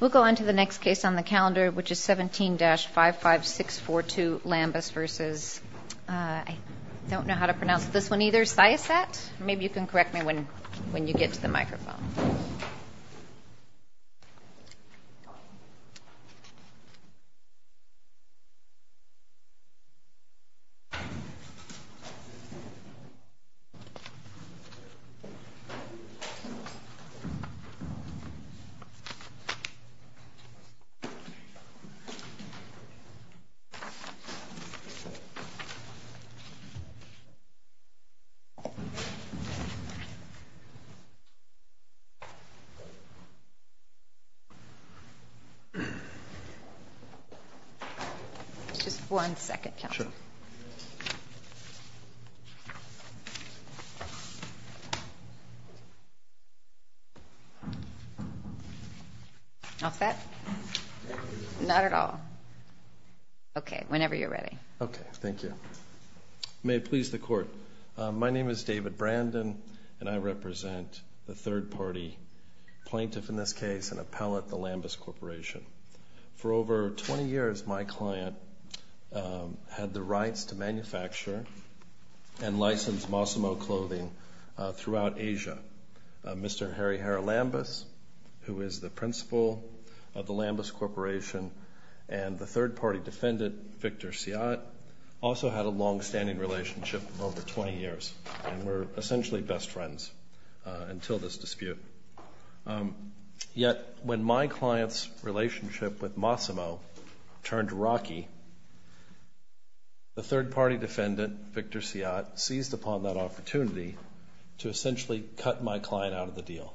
We'll go on to the next case on the calendar, which is 17-55642 Lambus v. Siasat. Just one second. Sure. Off that? Not at all. Okay. Whenever you're ready. Okay. Thank you. May it please the Court. My name is David Brandon, and I represent the third-party plaintiff in this case, an appellate at the Lambus Corporation. For over 20 years, my client had the rights to manufacture and license Mossimo clothing throughout Asia. Mr. Harry Herr Lambus, who is the principal of the Lambus Corporation, and the third-party defendant, Victor Siasat, also had a longstanding relationship of over 20 years and were essentially best friends until this dispute. Yet, when my client's relationship with Mossimo turned rocky, the third-party defendant, Victor to essentially cut my client out of the deal,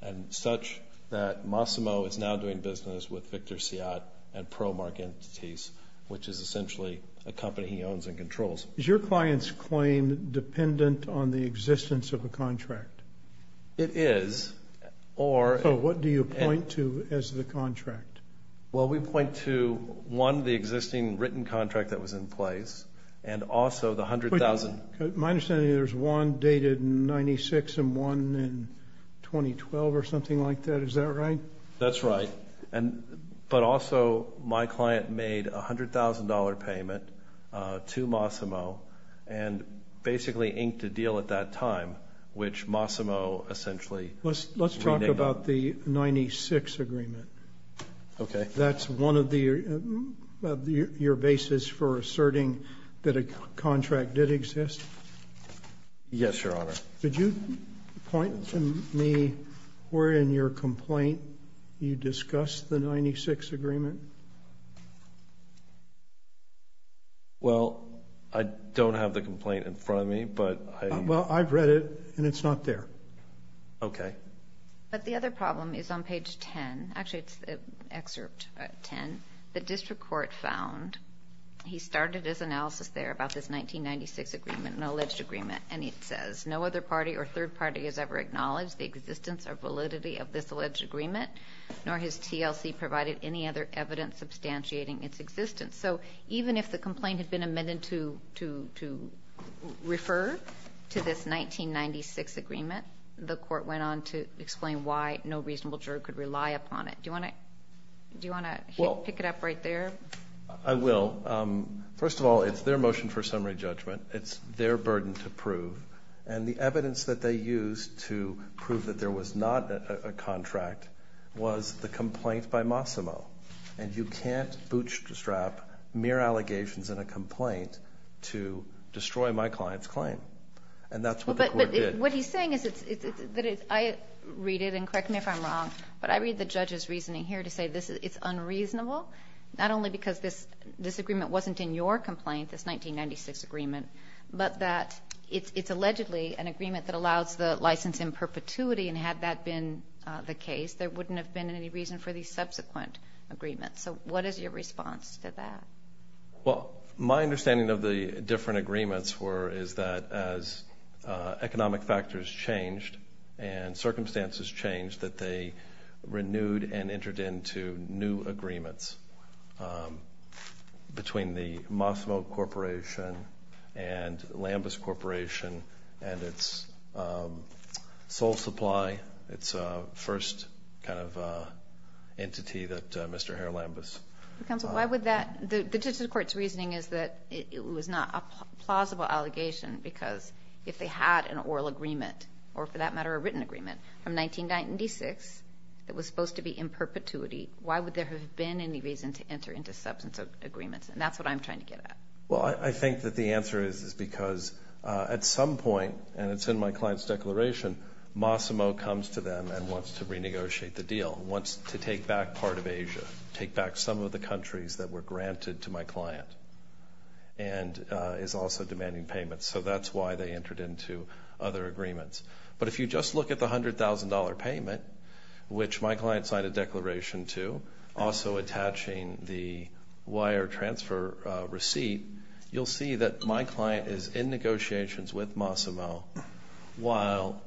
and such that Mossimo is now doing business with Victor Siasat and Promark Entities, which is essentially a company he owns and controls. Is your client's claim dependent on the existence of a contract? It is. So what do you point to as the contract? Well, we point to, one, the existing written contract that was in place, and also the $100,000 agreement. My understanding is there's one dated in 1996 and one in 2012 or something like that. Is that right? That's right. But also, my client made a $100,000 payment to Mossimo and basically inked a deal at that time, which Mossimo essentially renamed. Let's talk about the 1996 agreement. Okay. That's one of your bases for asserting that a contract did exist? Yes, Your Honor. Could you point to me where in your complaint you discussed the 1996 agreement? Well, I don't have the complaint in front of me, but I... Well, I've read it, and it's not there. Okay. But the other problem is on page 10. Actually, it's excerpt 10. The district court found, he started his analysis there about this 1996 agreement, an alleged agreement, and it says, no other party or third party has ever acknowledged the existence or validity of this alleged agreement, nor has TLC provided any other evidence substantiating its existence. So even if the complaint had been amended to refer to this 1996 agreement, the court went on to explain why no reasonable juror could rely upon it. Do you want to pick it up right there? I will. First of all, it's their motion for summary judgment. It's their burden to prove, and the evidence that they used to prove that there was not a contract was the complaint by Mossimo, and you can't bootstrap mere allegations in a complaint to destroy my client's claim, and that's what the court did. But what he's saying is that I read it, and correct me if I'm wrong, but I read the judge's reasoning here to say it's unreasonable, not only because this agreement wasn't in your complaint, this 1996 agreement, but that it's allegedly an agreement that allows the license in perpetuity, and had that been the case, there wouldn't have been any reason for the subsequent agreement. So what is your response to that? Well, my understanding of the different agreements were, is that as economic factors changed and circumstances changed, that they renewed and entered into new agreements between the Mossimo Corporation and Lambus Corporation and its sole supply, its first kind of entity that Mr. Hare Lambus. Counsel, why would that, the district court's reasoning is that it was not a plausible allegation because if they had an oral agreement, or for that matter, a written agreement from 1996 that was supposed to be in perpetuity, why would there have been any reason to enter into substance of agreements? And that's what I'm trying to get at. Well, I think that the answer is, is because at some point, and it's in my client's declaration, Mossimo comes to them and wants to renegotiate the deal, wants to take back part of Asia, take back some of the countries that were granted to my client, and is also demanding payments. So that's why they entered into other agreements. But if you just look at the $100,000 payment, which my client signed a declaration to, also attaching the wire transfer receipt, you'll see that my client is in negotiations with Mossimo while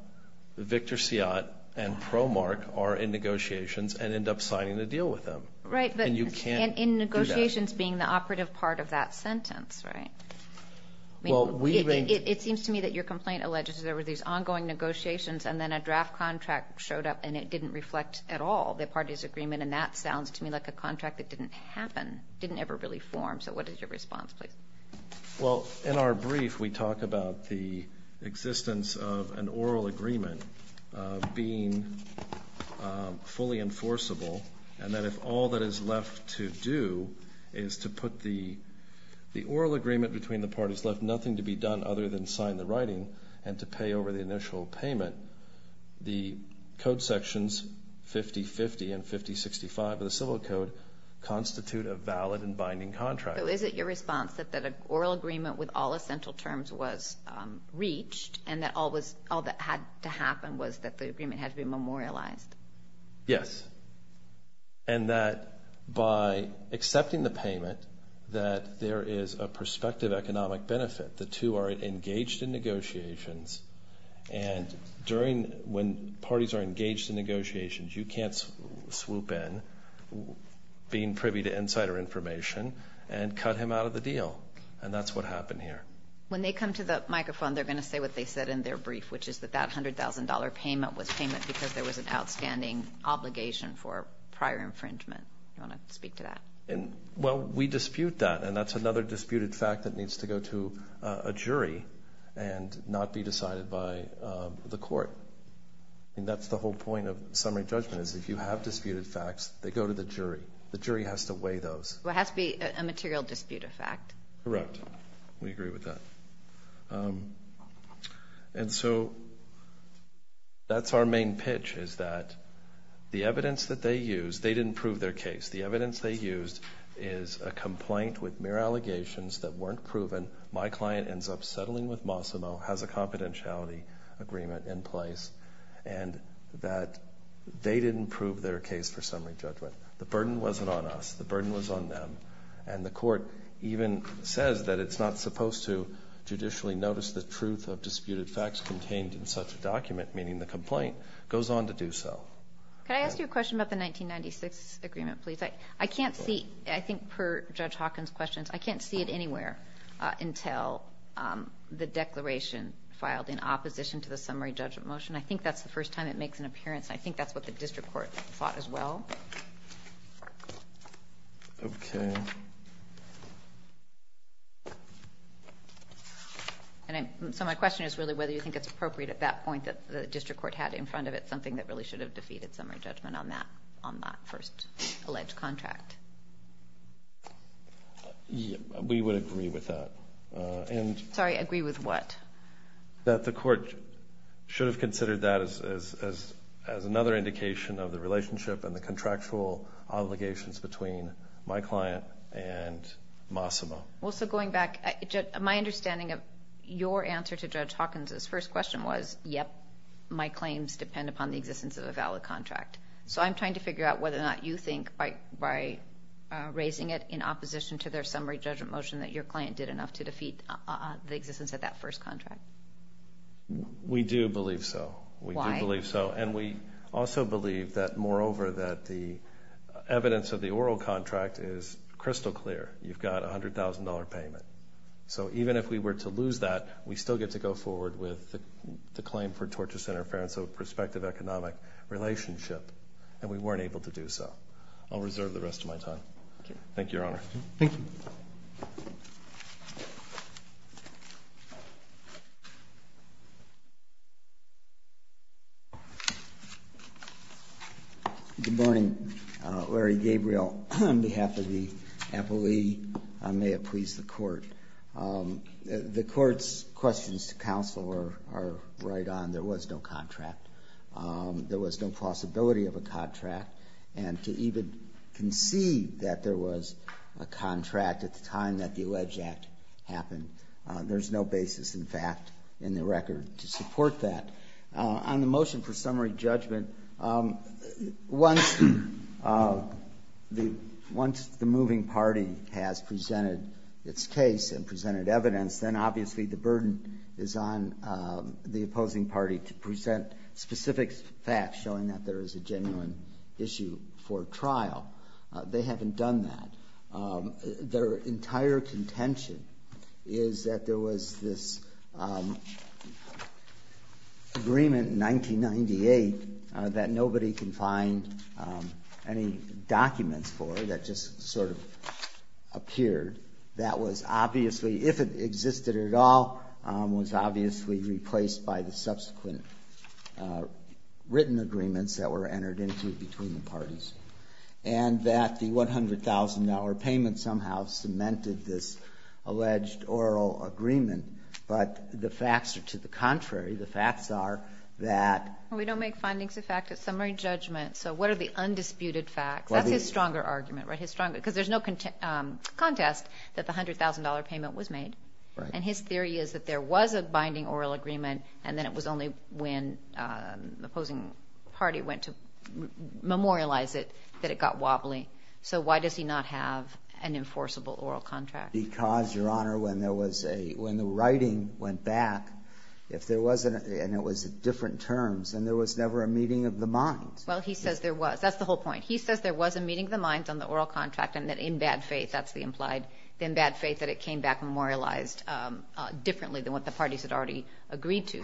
Victor Seat and Promark are in negotiations and end up signing a deal with them. Right. And you can't do that. And in negotiations being the operative part of that sentence, right? It seems to me that your complaint alleges that there were these ongoing negotiations and then a draft contract showed up and it didn't reflect at all the parties' agreement, and that sounds to me like a contract that didn't happen, didn't ever really form. So what is your response, please? Well, in our brief, we talk about the existence of an oral agreement being fully enforceable and that if all that is left to do is to put the oral agreement between the parties left, nothing to be done other than sign the writing and to pay over the initial payment, the Code Sections 5050 and 5065 of the Civil Code constitute a valid and binding contract. So is it your response that an oral agreement with all essential terms was reached and that all that had to happen was that the agreement had to be memorialized? Yes. And that by accepting the payment, that there is a prospective economic benefit. The two are engaged in negotiations, and when parties are engaged in negotiations, you can't swoop in being privy to insider information and cut him out of the deal, and that's what happened here. When they come to the microphone, they're going to say what they said in their brief, which is that that $100,000 payment was payment because there was an outstanding obligation for prior infringement. Do you want to speak to that? Well, we dispute that, and that's another disputed fact that needs to go to a jury and not be decided by the court. And that's the whole point of summary judgment is if you have disputed facts, they go to the jury. The jury has to weigh those. It has to be a material disputed fact. Correct. We agree with that. And so that's our main pitch is that the evidence that they used, they didn't prove their case. The evidence they used is a complaint with mere allegations that weren't proven. My client ends up settling with Mossimo, has a confidentiality agreement in place, and that they didn't prove their case for summary judgment. The burden wasn't on us. The burden was on them. And the court even says that it's not supposed to judicially notice the truth of disputed facts contained in such a document, meaning the complaint goes on to do so. Can I ask you a question about the 1996 agreement, please? I can't see, I think per Judge Hawkins' questions, I can't see it anywhere. Until the declaration filed in opposition to the summary judgment motion, I think that's the first time it makes an appearance. I think that's what the district court thought as well. Okay. So my question is really whether you think it's appropriate at that point that the district court had in front of it something that really should have defeated summary judgment on that first alleged contract. We would agree with that. Sorry, agree with what? That the court should have considered that as another indication of the relationship and the contractual obligations between my client and Mossimo. Well, so going back, my understanding of your answer to Judge Hawkins' first question was, yep, my claims depend upon the existence of a valid contract. So I'm trying to figure out whether or not you think by raising it in opposition to their summary judgment motion that your client did enough to defeat the existence of that first contract. We do believe so. Why? And we also believe that, moreover, that the evidence of the oral contract is crystal clear. You've got a $100,000 payment. So even if we were to lose that, we still get to go forward with the claim for torture, interference, or prospective economic relationship, and we weren't able to do so. I'll reserve the rest of my time. Thank you, Your Honor. Thank you. Good morning. Larry Gabriel on behalf of the appellee. May it please the court. The court's questions to counsel are right on. There was no contract. There was no plausibility of a contract. And to even conceive that there was a contract at the time that the Alleged Act happened, there's no basis in fact in the record to support that. On the motion for summary judgment, once the moving party has presented its case and presented evidence, then obviously the burden is on the opposing party to present specific facts showing that there is a genuine issue for trial. They haven't done that. Their entire contention is that there was this agreement in 1998 that nobody can find any documents for that just sort of appeared. That was obviously, if it existed at all, was obviously replaced by the subsequent written agreements that were entered into between the parties. And that the $100,000 payment somehow cemented this alleged oral agreement. But the facts are to the contrary. The facts are that we don't make findings of fact at summary judgment. So what are the undisputed facts? That's his stronger argument, right? Because there's no contest that the $100,000 payment was made. Right. And his theory is that there was a binding oral agreement, and then it was only when the opposing party went to memorialize it that it got wobbly. So why does he not have an enforceable oral contract? Because, Your Honor, when the writing went back, and it was different terms, and there was never a meeting of the minds. Well, he says there was. That's the whole point. He says there was a meeting of the minds on the oral contract, and that in bad faith, that's the implied. In bad faith that it came back memorialized differently than what the parties had already agreed to.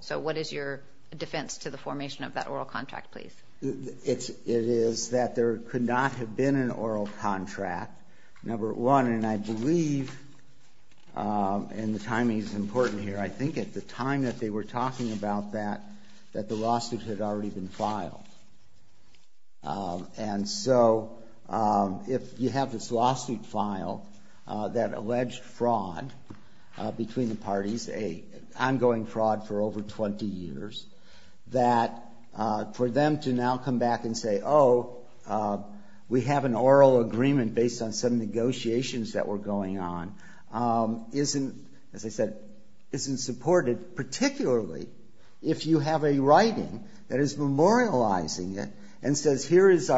So what is your defense to the formation of that oral contract, please? It is that there could not have been an oral contract, number one. And I believe, and the timing is important here, I think at the time that they were talking about that, that the lawsuit had already been filed. And so if you have this lawsuit filed that alleged fraud between the parties, ongoing fraud for over 20 years, that for them to now come back and say, oh, we have an oral agreement based on some negotiations that were going on, isn't, as I said, isn't supported, particularly if you have a writing that is memorializing it and says, here is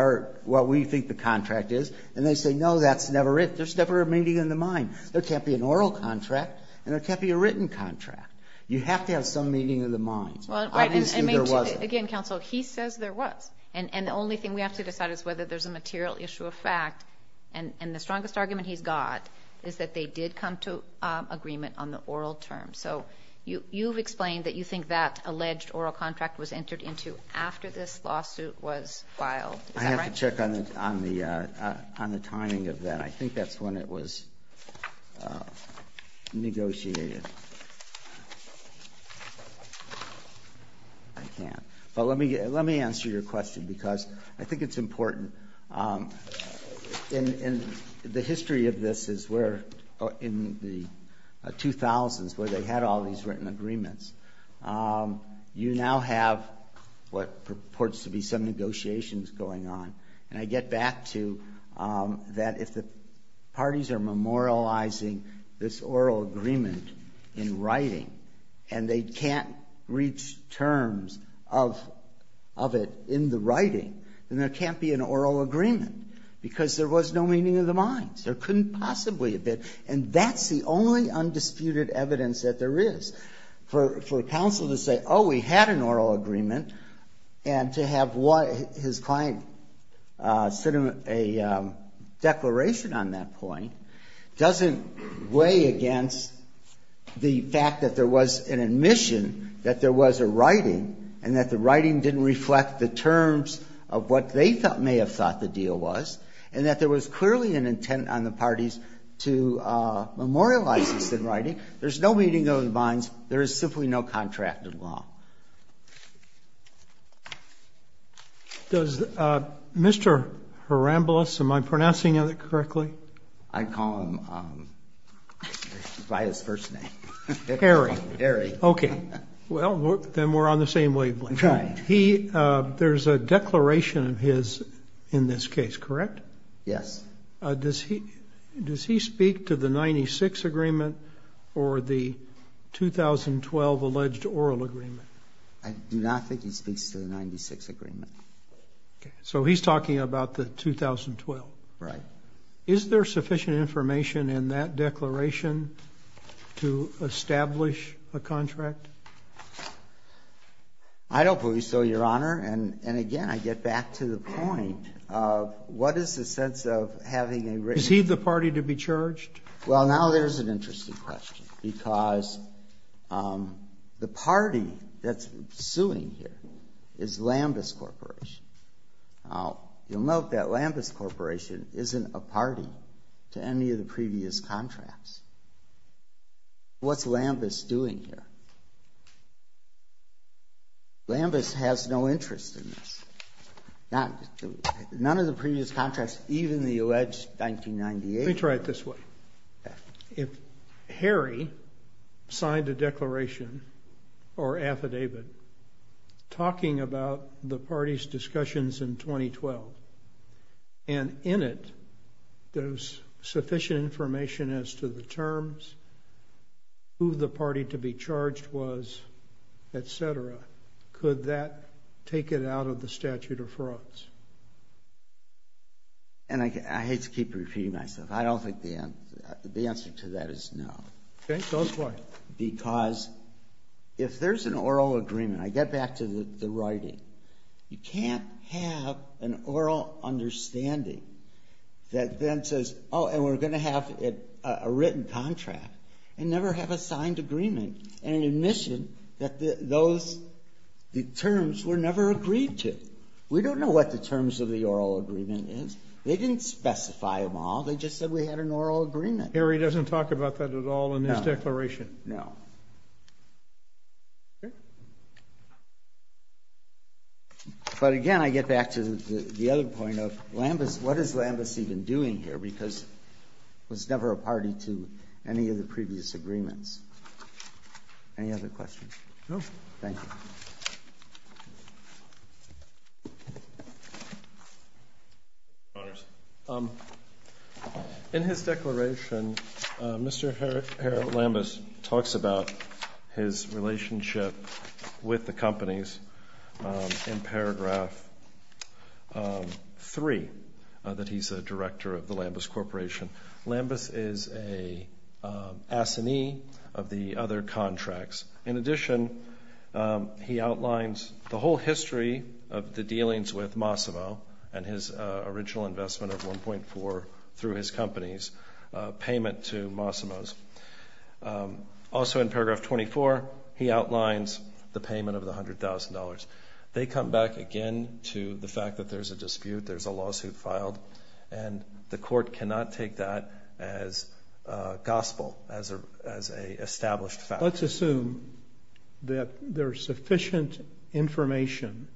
what we think the contract is. And they say, no, that's never it. There's never a meeting of the mind. There can't be an oral contract, and there can't be a written contract. You have to have some meeting of the minds. Obviously, there wasn't. Again, counsel, he says there was. And the only thing we have to decide is whether there's a material issue of fact. And the strongest argument he's got is that they did come to agreement on the oral term. So you've explained that you think that alleged oral contract was entered into after this lawsuit was filed. Is that right? I have to check on the timing of that. I think that's when it was negotiated. I can't. But let me answer your question because I think it's important. In the history of this is where in the 2000s where they had all these written agreements, you now have what purports to be some negotiations going on. And I get back to that if the parties are memorializing this oral agreement in writing and they can't reach terms of it in the writing, then there can't be an oral agreement because there was no meeting of the minds. There couldn't possibly have been. And that's the only undisputed evidence that there is for counsel to say, oh, we had an oral agreement, and to have his client send him a declaration on that point doesn't weigh against the fact that there was an admission that there was a writing and that the writing didn't reflect the terms of what they may have thought the deal was and that there was clearly an intent on the parties to memorialize this in writing. There's no meeting of the minds. There is simply no contracted law. Does Mr. Harambolous, am I pronouncing it correctly? I'd call him by his first name. Harry. Harry. Okay. Well, then we're on the same wavelength. Right. There's a declaration of his in this case, correct? Yes. Does he speak to the 96 agreement or the 2012 alleged oral agreement? I do not think he speaks to the 96 agreement. Okay. So he's talking about the 2012. Right. Is there sufficient information in that declaration to establish a contract? I don't believe so, Your Honor. And again, I get back to the point of what is the sense of having a written agreement? Is he the party to be charged? Well, now there's an interesting question, because the party that's suing here is Lambus Corporation. Now, you'll note that Lambus Corporation isn't a party to any of the previous contracts. What's Lambus doing here? Lambus has no interest in this. None of the previous contracts, even the alleged 1998. Let me try it this way. Okay. If Harry signed a declaration or affidavit talking about the party's discussions in 2012, and in it, there's sufficient information as to the terms, who the party to be charged was, et cetera, could that take it out of the statute of frauds? And I hate to keep repeating myself. I don't think the answer to that is no. Okay. Go ahead. Because if there's an oral agreement, I get back to the writing. You can't have an oral understanding that then says, oh, and we're going to have a written contract, and never have a signed agreement, and an admission that the terms were never agreed to. We don't know what the terms of the oral agreement is. They didn't specify them all. They just said we had an oral agreement. Harry doesn't talk about that at all in his declaration. No. Okay. But again, I get back to the other point of, what is Lambus even doing here? Because it was never a party to any of the previous agreements. Any other questions? No. Thank you. Your Honors, in his declaration, Mr. Harold Lambus talks about his relationship with the companies in paragraph 3, that he's a director of the Lambus Corporation. Lambus is a assignee of the other contracts. In addition, he outlines the whole history of the dealings with Mossimo, and his original investment of 1.4 through his company's payment to Mossimo's. Also in paragraph 24, he outlines the payment of the $100,000. They come back again to the fact that there's a dispute, there's a lawsuit filed, and the court cannot take that as gospel, as an established fact. Let's assume that there's sufficient information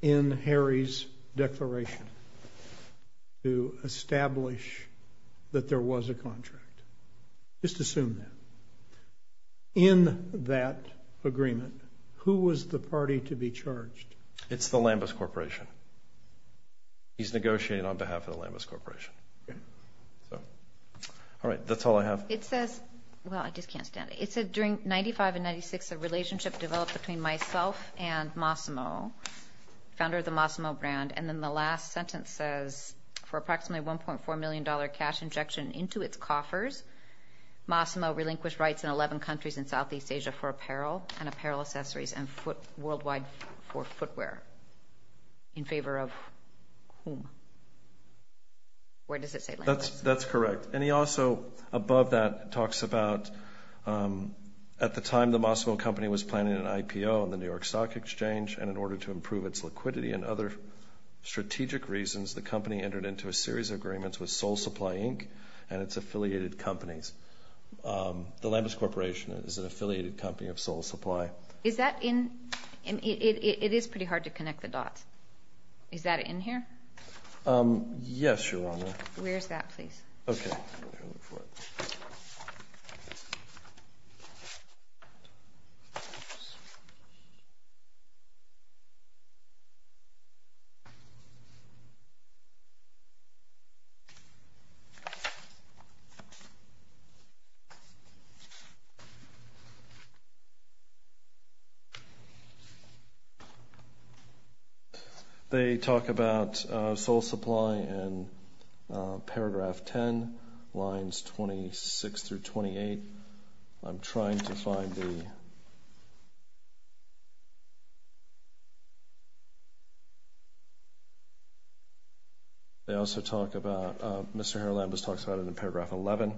in Harry's declaration to establish that there was a contract. Just assume that. In that agreement, who was the party to be charged? It's the Lambus Corporation. He's negotiating on behalf of the Lambus Corporation. All right. That's all I have. It says, well, I just can't stand it. It said, during 95 and 96, a relationship developed between myself and Mossimo, founder of the Mossimo brand, and then the last sentence says, for approximately $1.4 million cash injection into its coffers, Mossimo relinquished rights in 11 countries in Southeast Asia for apparel and apparel accessories and worldwide for footwear. In favor of whom? Where does it say Lambus? That's correct. And he also, above that, talks about, at the time the Mossimo company was planning an IPO on the New York Stock Exchange, and in order to improve its liquidity and other strategic reasons, the company entered into a series of agreements with Soul Supply Inc. and its affiliated companies. The Lambus Corporation is an affiliated company of Soul Supply. Is that in? It is pretty hard to connect the dots. Yes, Your Honor. Where is that, please? Okay. I'm going to look for it. Oops. They talk about Soul Supply in paragraph 10, lines 26 through 28. I'm trying to find the... They also talk about, Mr. Herlambus talks about it in paragraph 11.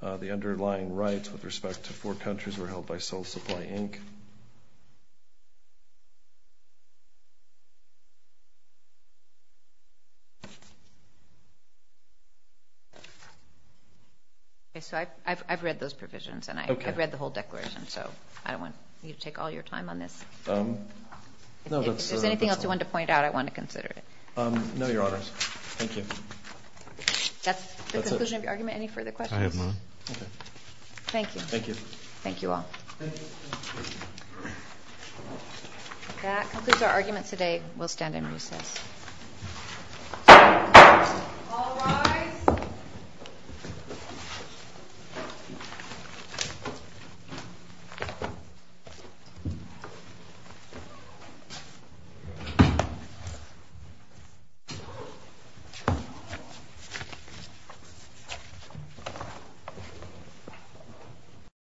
The underlying rights with respect to four countries were held by Soul Supply Inc. Okay, so I've read those provisions, and I've read the whole declaration, so I don't want you to take all your time on this. If there's anything else you want to point out, I want to consider it. No, Your Honors. Thank you. That's the conclusion of your argument. Any further questions? I have none. Okay. Thank you. Thank you. Thank you. Thank you. Thank you. Thank you. Thank you. Thank you. That concludes our argument today. We'll stand in recess. All rise.